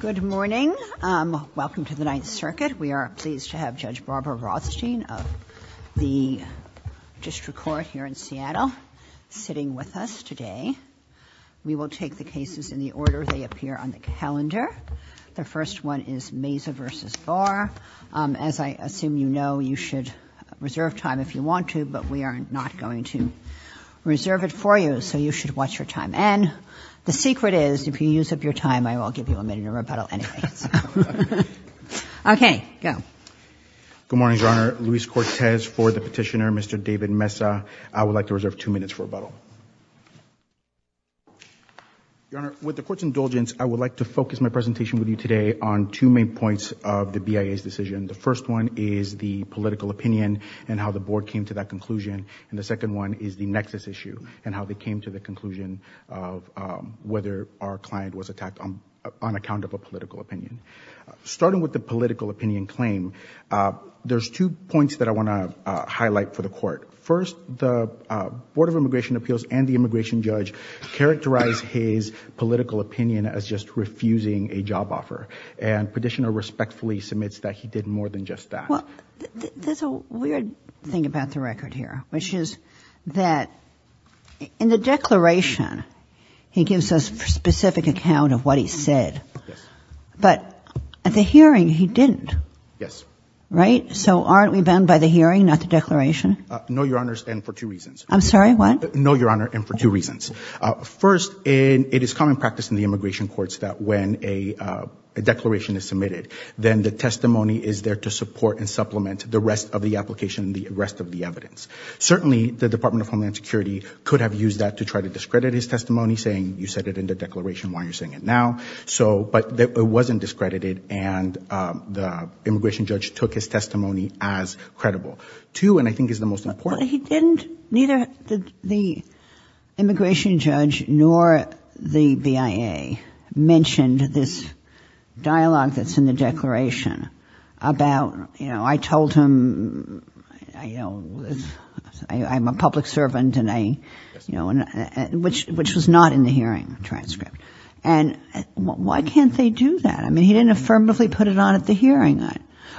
Good morning. Welcome to the Ninth Circuit. We are pleased to have Judge Barbara Rothstein of the District Court here in Seattle sitting with us today. We will take the cases in the order they appear on the calendar. The first one is Meza v. Barr. As I assume you know, you should reserve time if you want to, but we are not going to reserve it for you. So you should watch your time. And the secret is, if you use up your time, I will give you a minute of rebuttal anyway. Okay. Go. Luis Cortez Good morning, Your Honor. Luis Cortez for the petitioner, Mr. David Meza. I would like to reserve two minutes for rebuttal. Your Honor, with the Court's indulgence, I would like to focus my presentation with you today on two main points of the BIA's decision. The first one is the political opinion and how the Board came to that conclusion, and the second one is the nexus issue and how they came to the conclusion of whether our client was attacked on account of a political opinion. Starting with the political opinion claim, there's two points that I want to highlight for the Court. First, the Board of Immigration Appeals and the immigration judge characterized his political opinion as just refusing a job offer, and the petitioner respectfully submits that he did more than just that. Well, there's a weird thing about the record here, which is that in the declaration, he gives us a specific account of what he said, but at the hearing, he didn't. Yes. Right? So aren't we bound by the hearing, not the declaration? No, Your Honor, and for two reasons. I'm sorry, what? No, Your Honor, and for two reasons. First, it is common practice in the immigration courts that when a declaration is submitted, then the testimony is there to support and supplement the rest of the application and the rest of the evidence. Certainly, the Department of Homeland Security could have used that to try to discredit his testimony saying, you said it in the declaration, why are you saying it now? But it wasn't discredited, and the immigration judge took his testimony as credible. Two, and I think it's the most important. He didn't, neither the immigration judge nor the BIA mentioned this dialogue that's in the declaration about, you know, I told him, you know, I'm a public servant and I, you know, and which was not in the hearing transcript, and why can't they do that? I mean, he didn't affirmatively put it on at the hearing.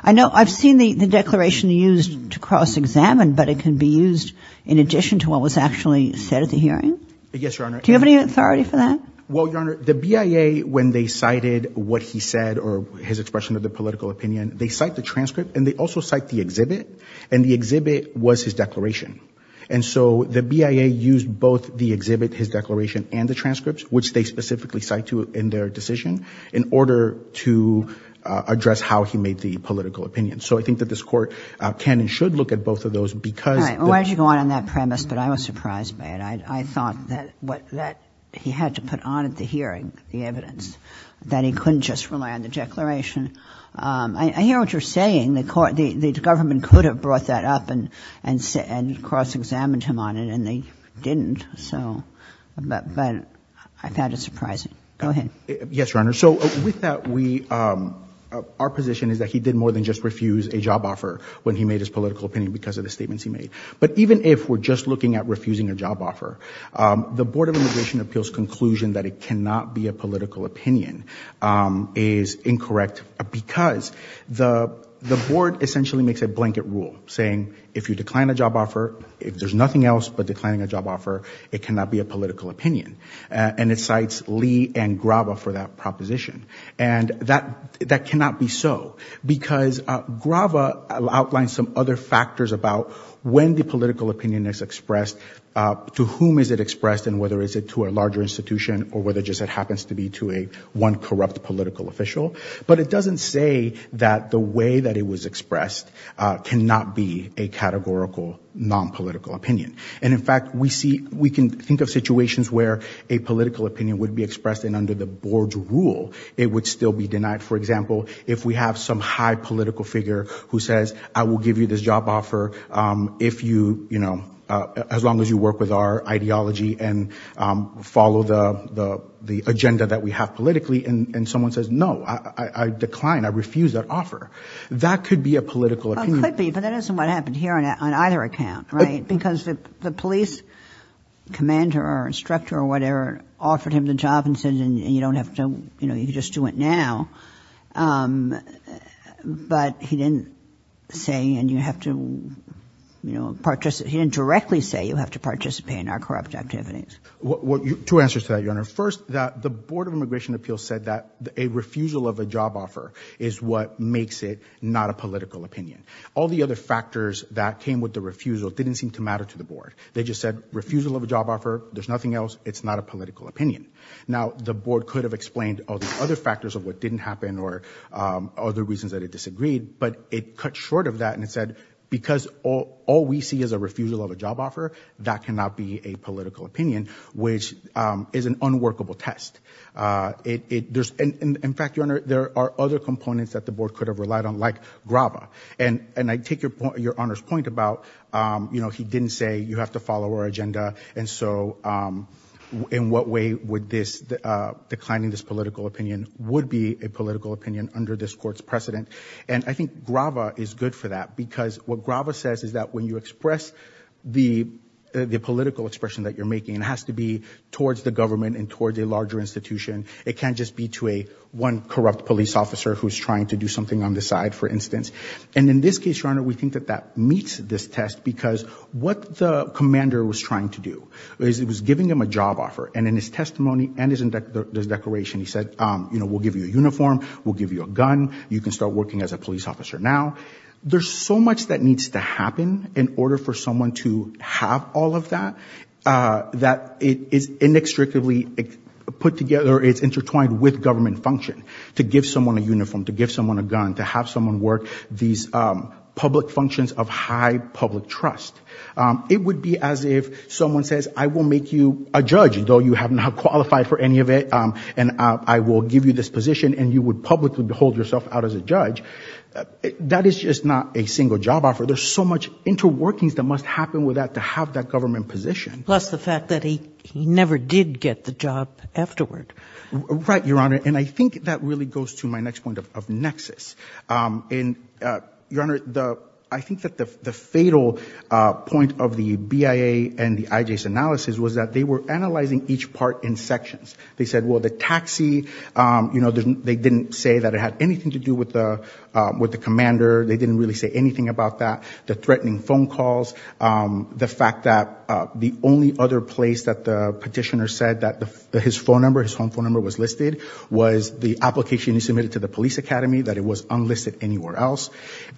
I know, I've seen the declaration used to cross-examine, but it can be used in addition to what was actually said at the hearing? Yes, Your Honor. Do you have any authority for that? Well, Your Honor, the BIA, when they cited what he said or his expression of the political opinion, they cite the transcript and they also cite the exhibit, and the exhibit was his declaration. And so the BIA used both the exhibit, his declaration, and the transcripts, which they specifically cite to in their decision, in order to address how he made the political opinion. So I think that this Court can and should look at both of those because... All right. Why don't you go on on that premise, but I was surprised by it. I thought that he had to put on at the hearing the evidence, that he couldn't just rely on the declaration. I hear what you're saying, the government could have brought that up and cross-examined him on it, and they didn't, so, but I found it surprising. Go ahead. Yes, Your Honor. So with that, our position is that he did more than just refuse a job offer when he made his political opinion because of the statements he made. But even if we're just looking at refusing a job offer, the Board of Immigration Appeals conclusion that it cannot be a political opinion is incorrect because the Board essentially makes a blanket rule saying, if you decline a job offer, if there's nothing else but declining a job offer, it cannot be a political opinion. And it cites Lee and Grava for that proposition. And that cannot be so, because Grava outlines some other factors about when the political opinion is expressed, to whom is it expressed, and whether it's to a larger institution or whether it just happens to be to one corrupt political official. But it doesn't say that the way that it was expressed cannot be a categorical non-political opinion. And in fact, we see, we can think of situations where a political opinion would be expressed and under the Board's rule, it would still be denied. For example, if we have some high political figure who says, I will give you this job offer if you, you know, as long as you work with our ideology and follow the agenda that we have politically, and someone says, no, I decline, I refuse that offer, that could be a political opinion. It could be, but that isn't what happened here on either account, right? Because the police commander or instructor or whatever offered him the job and said, and you don't have to, you know, you can just do it now. But he didn't say, and you have to, you know, participate, he didn't directly say you have to participate in our corrupt activities. Two answers to that, Your Honor. First, that the Board of Immigration Appeals said that a refusal of a job offer is what makes it not a political opinion. All the other factors that came with the refusal didn't seem to matter to the Board. They just said refusal of a job offer, there's nothing else, it's not a political opinion. Now, the Board could have explained all the other factors of what didn't happen or other reasons that it disagreed, but it cut short of that and it said, because all we see is a refusal of a job offer, that cannot be a political opinion, which is an unworkable test. In fact, Your Honor, there are other components that the Board could have relied on, like And I take Your Honor's point about, you know, he didn't say you have to follow our agenda, and so in what way would this, declining this political opinion, would be a political opinion under this Court's precedent. And I think Grava is good for that, because what Grava says is that when you express the political expression that you're making, it has to be towards the government and towards a larger institution. It can't just be to a one corrupt police officer who's trying to do something on the side, for instance. And in this case, Your Honor, we think that that meets this test, because what the commander was trying to do is he was giving him a job offer, and in his testimony and in his declaration he said, you know, we'll give you a uniform, we'll give you a gun, you can start working as a police officer now. There's so much that needs to happen in order for someone to have all of that, that it is inextricably put together, it's intertwined with government function, to give someone a uniform, to give someone a gun, to have someone work these public functions of high public trust. It would be as if someone says, I will make you a judge, though you have not qualified for any of it, and I will give you this position, and you would publicly hold yourself out as a judge. That is just not a single job offer. There's so much interworkings that must happen with that to have that government position. Plus the fact that he never did get the job afterward. Right, Your Honor. And I think that really goes to my next point of nexus. And Your Honor, I think that the fatal point of the BIA and the IJ's analysis was that they were analyzing each part in sections. They said, well, the taxi, you know, they didn't say that it had anything to do with the commander, they didn't really say anything about that. The threatening phone calls, the fact that the only other place that the petitioner said that his phone number, his home phone number was listed, was the application he submitted to the police academy, that it was unlisted anywhere else.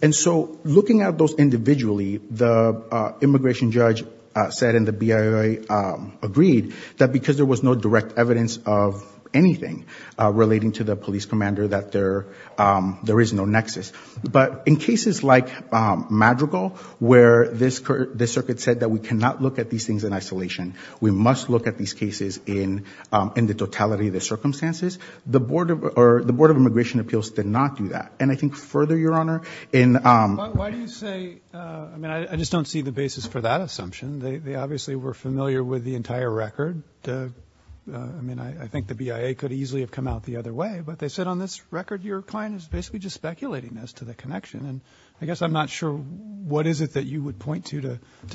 And so looking at those individually, the immigration judge said, and the BIA agreed, that because there was no direct evidence of anything relating to the police commander, that there is no nexus. But in cases like Madrigal, where the circuit said that we cannot look at these things in the totality of the circumstances, the Board of Immigration Appeals did not do that. And I think further, Your Honor, in... But why do you say, I mean, I just don't see the basis for that assumption. They obviously were familiar with the entire record. I mean, I think the BIA could easily have come out the other way, but they said on this record your client is basically just speculating as to the connection. And I guess I'm not sure what is it that you would point to,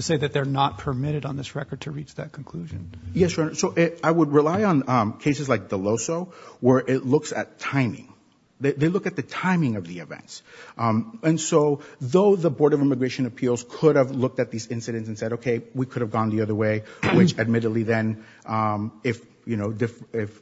to say that they're not permitted on this record to reach that conclusion. Yes, Your Honor. I would rely on cases like Deloso, where it looks at timing. They look at the timing of the events. And so though the Board of Immigration Appeals could have looked at these incidents and said, okay, we could have gone the other way, which admittedly then, if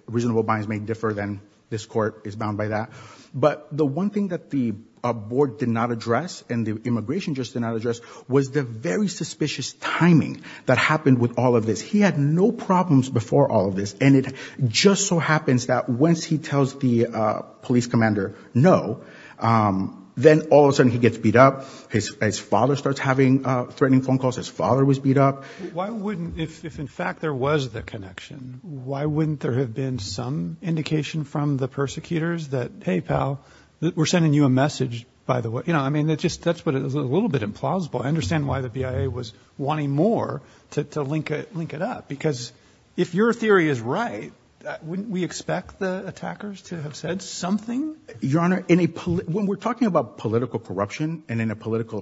reasonable bias may differ, then this court is bound by that. But the one thing that the Board did not address, and the immigration judge did not address, was the very suspicious timing that happened with all of this. He had no problems before all of this. And it just so happens that once he tells the police commander no, then all of a sudden he gets beat up. His father starts having threatening phone calls. His father was beat up. Why wouldn't, if in fact there was the connection, why wouldn't there have been some indication from the persecutors that, hey, pal, we're sending you a message, by the way? You know, I mean, that's just a little bit implausible. I understand why the BIA was wanting more to link it up. Because if your theory is right, wouldn't we expect the attackers to have said something? Your Honor, when we're talking about political corruption and in a political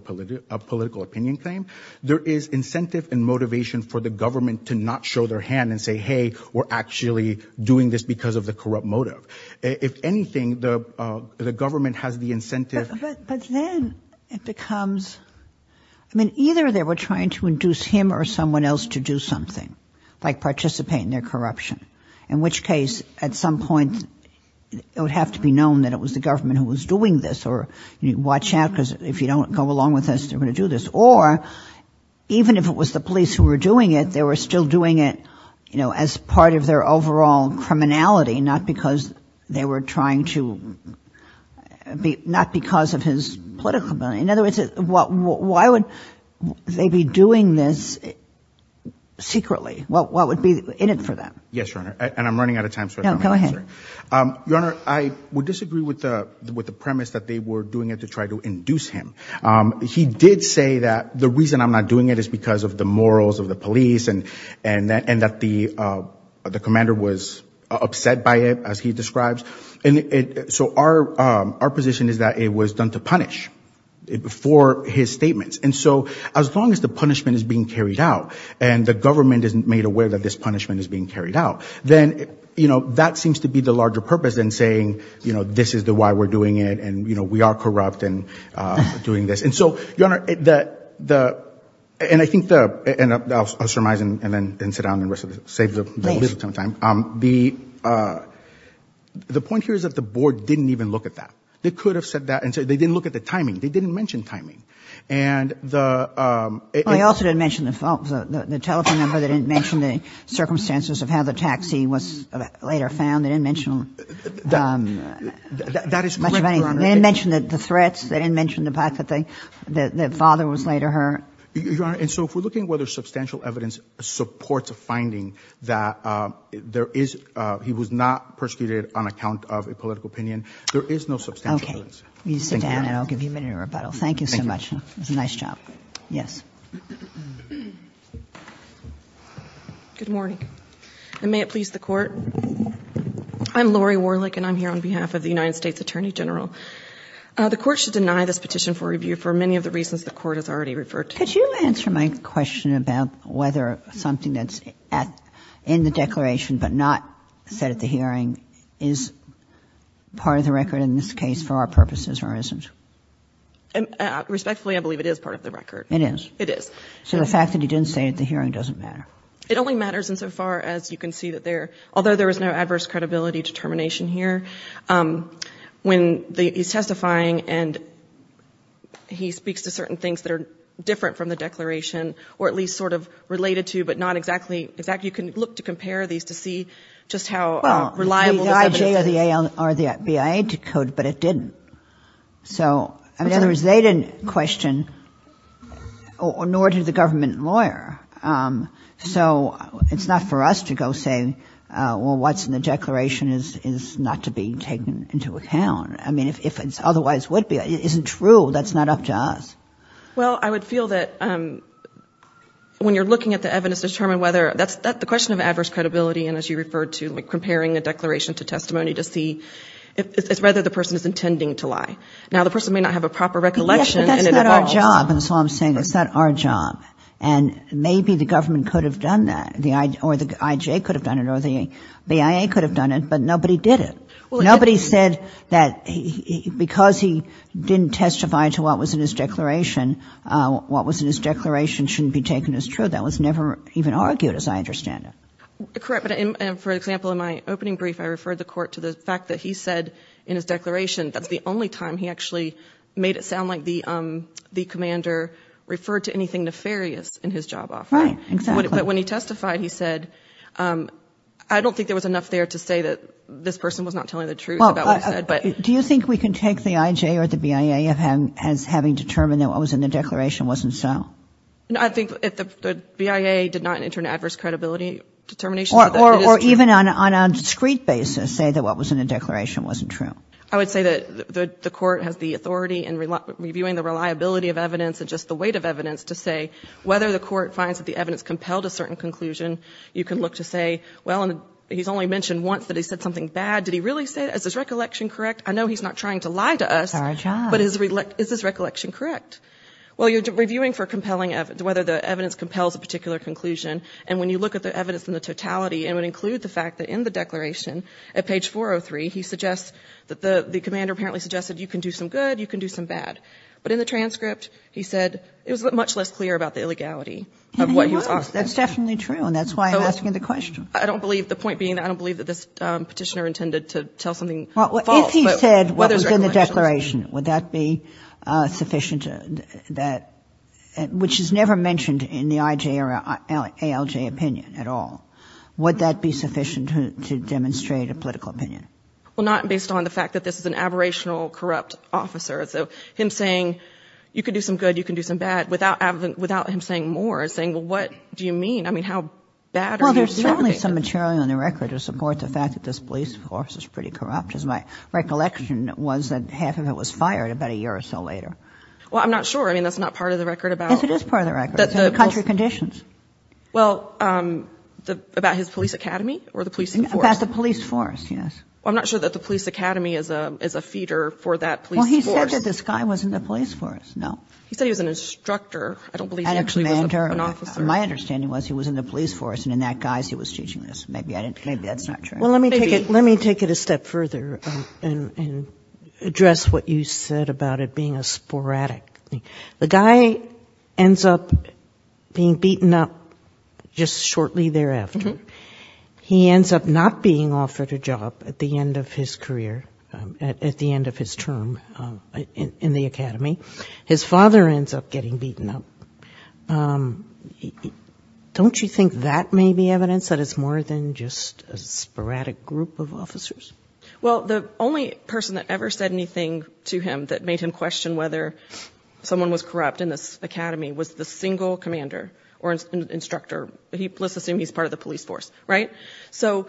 opinion claim, there is incentive and motivation for the government to not show their hand and say, hey, we're actually doing this because of the corrupt motive. If anything, the government has the incentive. But then it becomes, I mean, either they were trying to induce him or someone else to do something like participate in their corruption, in which case at some point it would have to be known that it was the government who was doing this or watch out because if you don't go along with this, they're going to do this. Or even if it was the police who were doing it, they were still doing it, you know, as part of their overall criminality, not because they were trying to be, not because of his political ability. In other words, why would they be doing this secretly? What would be in it for them? Yes, Your Honor. And I'm running out of time. No, go ahead. Your Honor, I would disagree with the premise that they were doing it to try to induce him. He did say that the reason I'm not doing it is because of the morals of the police and that the commander was upset by it, as he describes. So our position is that it was done to punish for his statements. And so as long as the punishment is being carried out and the government is made aware that this punishment is being carried out, then, you know, that seems to be the larger purpose than saying, you know, this is why we're doing it and, you know, we are corrupt and doing this. And so, Your Honor, that the, and I think the, and I'll surmise and then sit down and rest of it, save the little time, the, the point here is that the board didn't even look at that. They could have said that. And so they didn't look at the timing. They didn't mention timing. And the, um. They also didn't mention the phone, the telephone number, they didn't mention the circumstances of how the taxi was later found, they didn't mention, um, much of any, they didn't mention the threats. They didn't mention the fact that they, that the father was later hurt. Your Honor, and so if we're looking at whether substantial evidence supports a finding that, um, there is, uh, he was not persecuted on account of a political opinion, there is no substantial evidence. Okay. You sit down and I'll give you a minute of rebuttal. Thank you so much. It was a nice job. Yes. Good morning. And may it please the court. I'm Lori Warlick and I'm here on behalf of the United States Attorney General. Uh, the court should deny this petition for review for many of the reasons the court has already referred to. Could you answer my question about whether something that's at, in the declaration but not said at the hearing is part of the record in this case for our purposes or isn't? Respectfully, I believe it is part of the record. It is? It is. So the fact that you didn't say it at the hearing doesn't matter? It only matters insofar as you can see that there, although there is no adverse credibility determination here, um, when the, he's testifying and he speaks to certain things that are different from the declaration or at least sort of related to, but not exactly, exactly. You can look to compare these to see just how reliable the evidence is. Well, the IJ or the AL or the BIA decode, but it didn't. So in other words, they didn't question or nor did the government lawyer. Um, so it's not for us to go say, uh, well, what's in the declaration is, is not to be taken into account. I mean, if, if it's otherwise would be, isn't true, that's not up to us. Well, I would feel that, um, when you're looking at the evidence to determine whether that's, that's the question of adverse credibility and as you referred to, like comparing a declaration to testimony to see if it's whether the person is intending to lie. Now the person may not have a proper recollection and it evolves. Yes, but that's not our job. And maybe the government could have done that, or the IJ could have done it or the BIA could have done it, but nobody did it. Nobody said that because he didn't testify to what was in his declaration, uh, what was in his declaration shouldn't be taken as true. That was never even argued as I understand it. Correct. But for example, in my opening brief, I referred the court to the fact that he said in his declaration, that's the only time he actually made it sound like the, um, the commander referred to anything nefarious in his job offer. Right. Exactly. But when he testified, he said, um, I don't think there was enough there to say that this person was not telling the truth about what he said, but. Do you think we can take the IJ or the BIA as having determined that what was in the declaration wasn't so? I think if the BIA did not enter an adverse credibility determination, it is true. Or even on a discrete basis say that what was in the declaration wasn't true. I would say that the court has the authority in reviewing the reliability of evidence and just the weight of evidence to say whether the court finds that the evidence compelled a certain conclusion, you can look to say, well, he's only mentioned once that he said something bad. Did he really say that? Is his recollection correct? I know he's not trying to lie to us, but is his recollection correct? Well, you're reviewing for compelling evidence, whether the evidence compels a particular conclusion. And when you look at the evidence in the totality, it would include the fact that in the declaration at page 403, he suggests that the, the commander apparently suggested you can do some good, you can do some bad. But in the transcript, he said it was much less clear about the illegality of what he was asking. That's definitely true. And that's why I'm asking the question. I don't believe, the point being, I don't believe that this Petitioner intended to tell something false. Well, if he said what was in the declaration, would that be sufficient that, which is never mentioned in the IJ or ALJ opinion at all, would that be sufficient to demonstrate a political opinion? Well, not based on the fact that this is an aberrational corrupt officer. So him saying, you can do some good, you can do some bad, without him saying more, saying, well, what do you mean? I mean, how bad are you describing? Well, there's certainly some material on the record to support the fact that this police force is pretty corrupt. As my recollection was that half of it was fired about a year or so later. Well, I'm not sure. I mean, that's not part of the record about the country conditions. Well, about his police academy or the police force? About the police force, yes. Well, I'm not sure that the police academy is a feeder for that police force. Well, he said that this guy was in the police force. No. He said he was an instructor. I don't believe he actually was an officer. And a mentor. My understanding was he was in the police force, and in that guy's he was teaching this. Maybe I didn't, maybe that's not true. Well, let me take it, let me take it a step further and address what you said about it being a sporadic thing. The guy ends up being beaten up just shortly thereafter. He ends up not being offered a job at the end of his career, at the end of his term in the academy. His father ends up getting beaten up. Don't you think that may be evidence that it's more than just a sporadic group of officers? Well, the only person that ever said anything to him that made him question whether someone was corrupt in this academy was the single commander or instructor. Let's assume he's part of the police force, right? So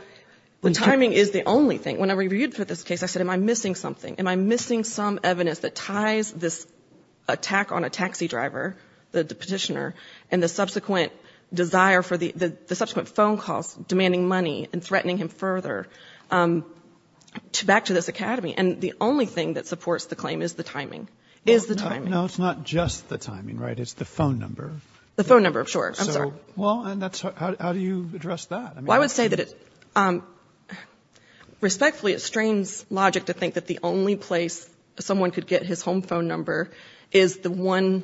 the timing is the only thing. When I reviewed for this case, I said, am I missing something? Am I missing some evidence that ties this attack on a taxi driver, the petitioner, and the subsequent desire for the subsequent phone calls demanding money and threatening him further back to this academy? And the only thing that supports the claim is the timing. Is the timing. No, it's not just the timing, right? It's the phone number. The phone number, sure. I'm sorry. Well, and that's, how do you address that? I would say that it, respectfully, it strains logic to think that the only place someone could get his home phone number is the one,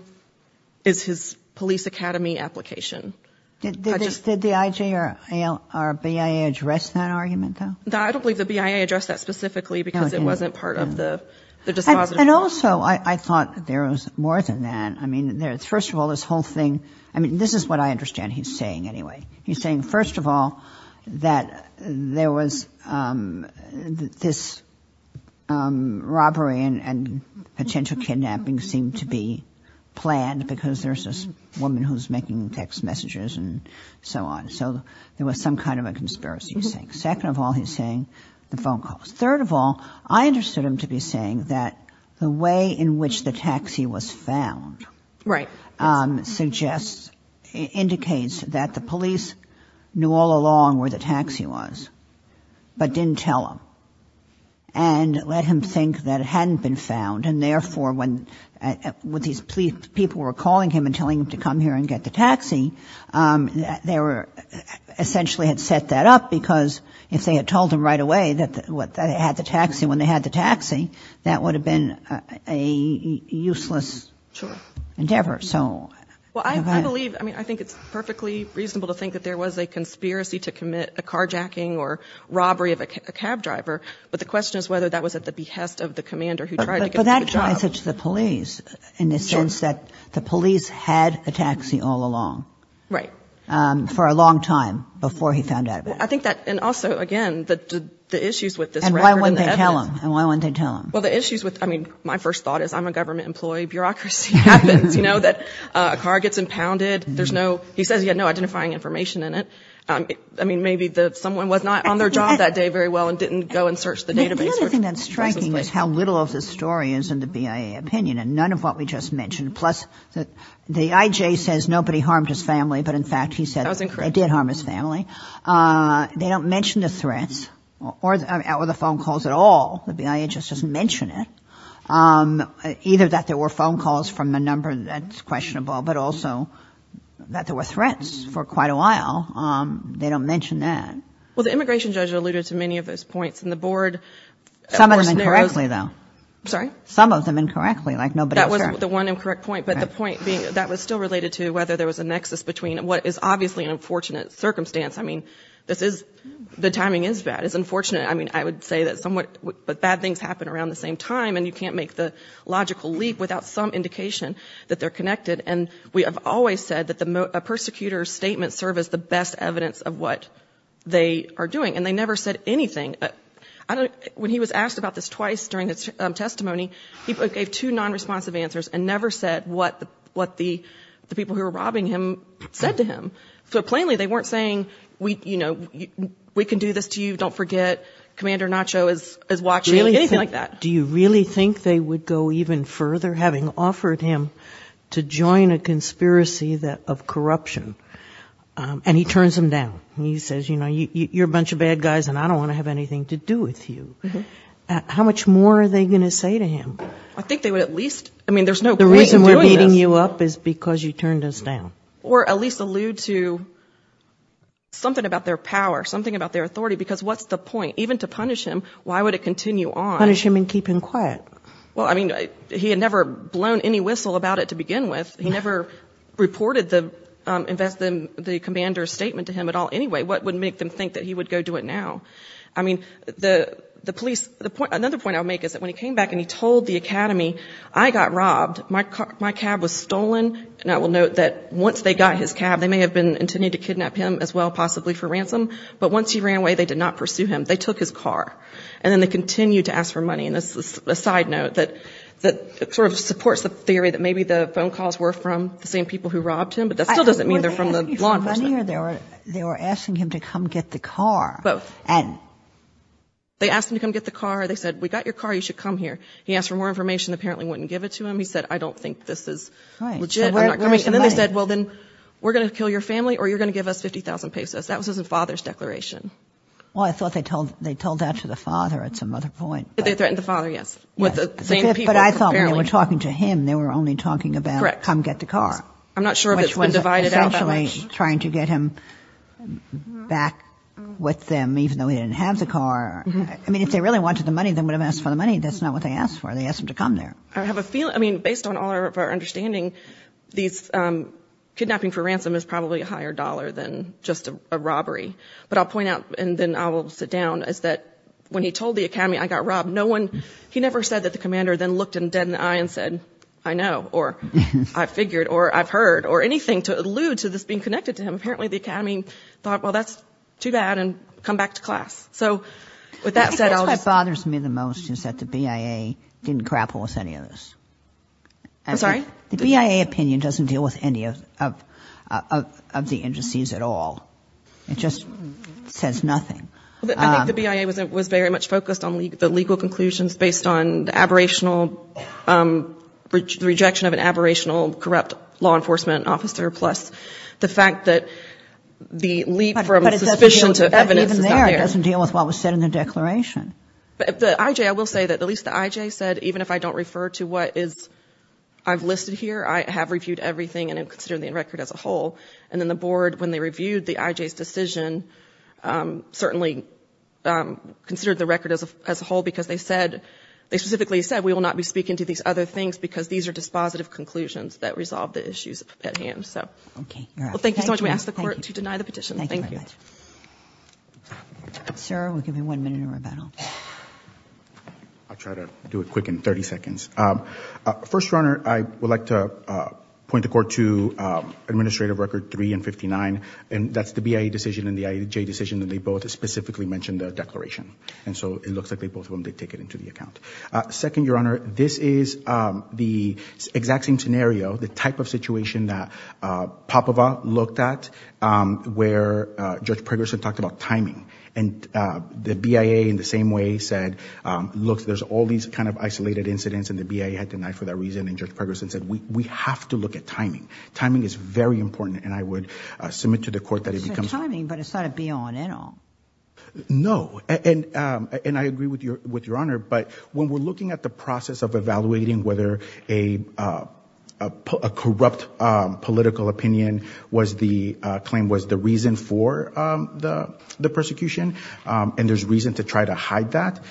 is his police academy application. Did the IJ or BIA address that argument, though? I don't believe the BIA addressed that specifically because it wasn't part of the dispositive process. And also, I thought there was more than that. I mean, first of all, this whole thing, I mean, this is what I understand he's saying anyway. He's saying, first of all, that there was this robbery and potential kidnapping seemed to be planned because there's this woman who's making text messages and so on. So there was some kind of a conspiracy, he's saying. Second of all, he's saying, the phone calls. Third of all, I understood him to be saying that the way in which the taxi was found suggests, indicates that the police knew all along where the taxi was, but didn't tell him. And let him think that it hadn't been found, and therefore, when these people were calling him and telling him to come here and get the taxi, they were essentially had set that up because if they had told him right away that they had the taxi when they had the taxi, that would have been a useless endeavor. So... Well, I believe, I mean, I think it's perfectly reasonable to think that there was a conspiracy to commit a carjacking or robbery of a cab driver, but the question is whether that was at the behest of the commander who tried to get him to the job. But that ties it to the police in the sense that the police had a taxi all along. Right. For a long time before he found out. I think that, and also, again, the issues with this record and the evidence... And why wouldn't they tell him? And why wouldn't they tell him? Well, the issues with, I mean, my first thought is I'm a government employee, bureaucracy happens, you know, that a car gets impounded, there's no, he says he had no identifying information in it. I mean, maybe someone was not on their job that day very well and didn't go and search the database. The other thing that's striking is how little of the story is in the BIA opinion, and none of what we just mentioned, plus the I.J. says nobody harmed his family, but in fact, he said... That was incorrect. They did harm his family. They don't mention the threats, or the phone calls at all, the BIA just doesn't mention it. Either that there were phone calls from a number that's questionable, but also that there were threats for quite a while. They don't mention that. Well, the immigration judge alluded to many of those points, and the board... Some of them incorrectly, though. I'm sorry? Some of them incorrectly, like nobody was there. That was the one incorrect point, but the point being, that was still related to whether there was a nexus between what is obviously an unfortunate circumstance. I mean, this is... The timing is bad. It's unfortunate. I mean, I would say that somewhat... But bad things happen around the same time, and you can't make the logical leap without some indication that they're connected, and we have always said that a persecutor's statements serve as the best evidence of what they are doing, and they never said anything. When he was asked about this twice during his testimony, he gave two non-responsive answers and never said what the people who were robbing him said to him. So, plainly, they weren't saying, you know, we can do this to you, don't forget, Commander Nacho is watching, anything like that. Do you really think they would go even further, having offered him to join a conspiracy of corruption, and he turns them down, and he says, you know, you're a bunch of bad guys and I don't want to have anything to do with you. How much more are they going to say to him? I think they would at least... I mean, there's no point in doing this. The reason we're beating you up is because you turned us down. Or at least allude to something about their power, something about their authority, because what's the point? Even to punish him, why would it continue on? Punish him and keep him quiet. Well, I mean, he had never blown any whistle about it to begin with. He never reported the Commander's statement to him at all anyway. What would make them think that he would go do it now? I mean, the police... Another point I'll make is that when he came back and he told the Academy, I got robbed, my cab was stolen, and I will note that once they got his cab, they may have been intending to kidnap him as well, possibly for ransom, but once he ran away, they did not pursue him. They took his car. And then they continued to ask for money. And this is a side note that sort of supports the theory that maybe the phone calls were from the same people who robbed him, but that still doesn't mean they're from the law enforcement. They were asking him to come get the car. Both. And? They asked him to come get the car. They said, we got your car. You should come here. He asked for more information. Apparently, he wouldn't give it to him. He said, I don't think this is legit. And then they said, well, then we're going to kill your family or you're going to give us 50,000 pesos. That was his father's declaration. Well, I thought they told that to the father at some other point. They threatened the father, yes. With the same people. But I thought when they were talking to him, they were only talking about come get the car. I'm not sure if it's been divided out that much. Which was essentially trying to get him back with them, even though he didn't have the car. I mean, if they really wanted the money, they would have asked for the money. That's not what they asked for. They asked him to come there. I have a feeling, I mean, based on all of our understanding, these, kidnapping for ransom is probably a higher dollar than just a robbery. But I'll point out, and then I will sit down, is that when he told the Academy I got robbed, no one, he never said that the commander then looked him dead in the eye and said, I know, or I figured, or I've heard, or anything to allude to this being connected to him. Apparently the Academy thought, well, that's too bad, and come back to class. So with that said, I'll just... I think that's what bothers me the most is that the BIA didn't grapple with any of this. I'm sorry? The BIA opinion doesn't deal with any of the indices at all. It just says nothing. I think the BIA was very much focused on the legal conclusions based on the aberrational rejection of an aberrational, corrupt law enforcement officer, plus the fact that the leap from suspicion to evidence is not there. But even there, it doesn't deal with what was said in the declaration. The IJ, I will say that at least the IJ said, even if I don't refer to what is, I've listed here, I have reviewed everything and I'm considering the record as a whole. And then the board, when they reviewed the IJ's decision, certainly considered the record as a whole because they said, they specifically said, we will not be speaking to these other things because these are dispositive conclusions that resolve the issues at hand. Okay. Thank you so much. We ask the court to deny the petition. Thank you. Thank you very much. Sir, we'll give you one minute of rebuttal. I'll try to do it quick in 30 seconds. First, Your Honor, I would like to point the court to Administrative Record 3 and 59. And that's the BIA decision and the IJ decision, and they both specifically mentioned the declaration. And so it looks like they both of them did take it into the account. Second, Your Honor, this is the exact same scenario, the type of situation that Popova looked at, where Judge Pregerson talked about timing. And the BIA in the same way said, look, there's all these kind of isolated incidents, and the BIA had denied for that reason. And Judge Pregerson said, we have to look at timing. Timing is very important. And I would submit to the court that it becomes... It's not timing, but it's not a be-all and end-all. No. And I agree with Your Honor. But when we're looking at the process of evaluating whether a corrupt political opinion claim was the reason for the persecution, and there's reason to try to hide that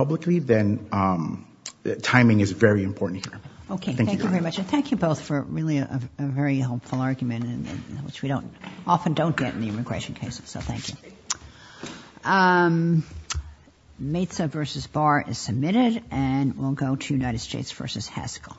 publicly, then timing is very important here. Okay. Thank you very much. And thank you both for really a very helpful argument, which we often don't get in the immigration cases. So thank you. Maitza versus Barr is submitted, and we'll go to United States versus Haskell.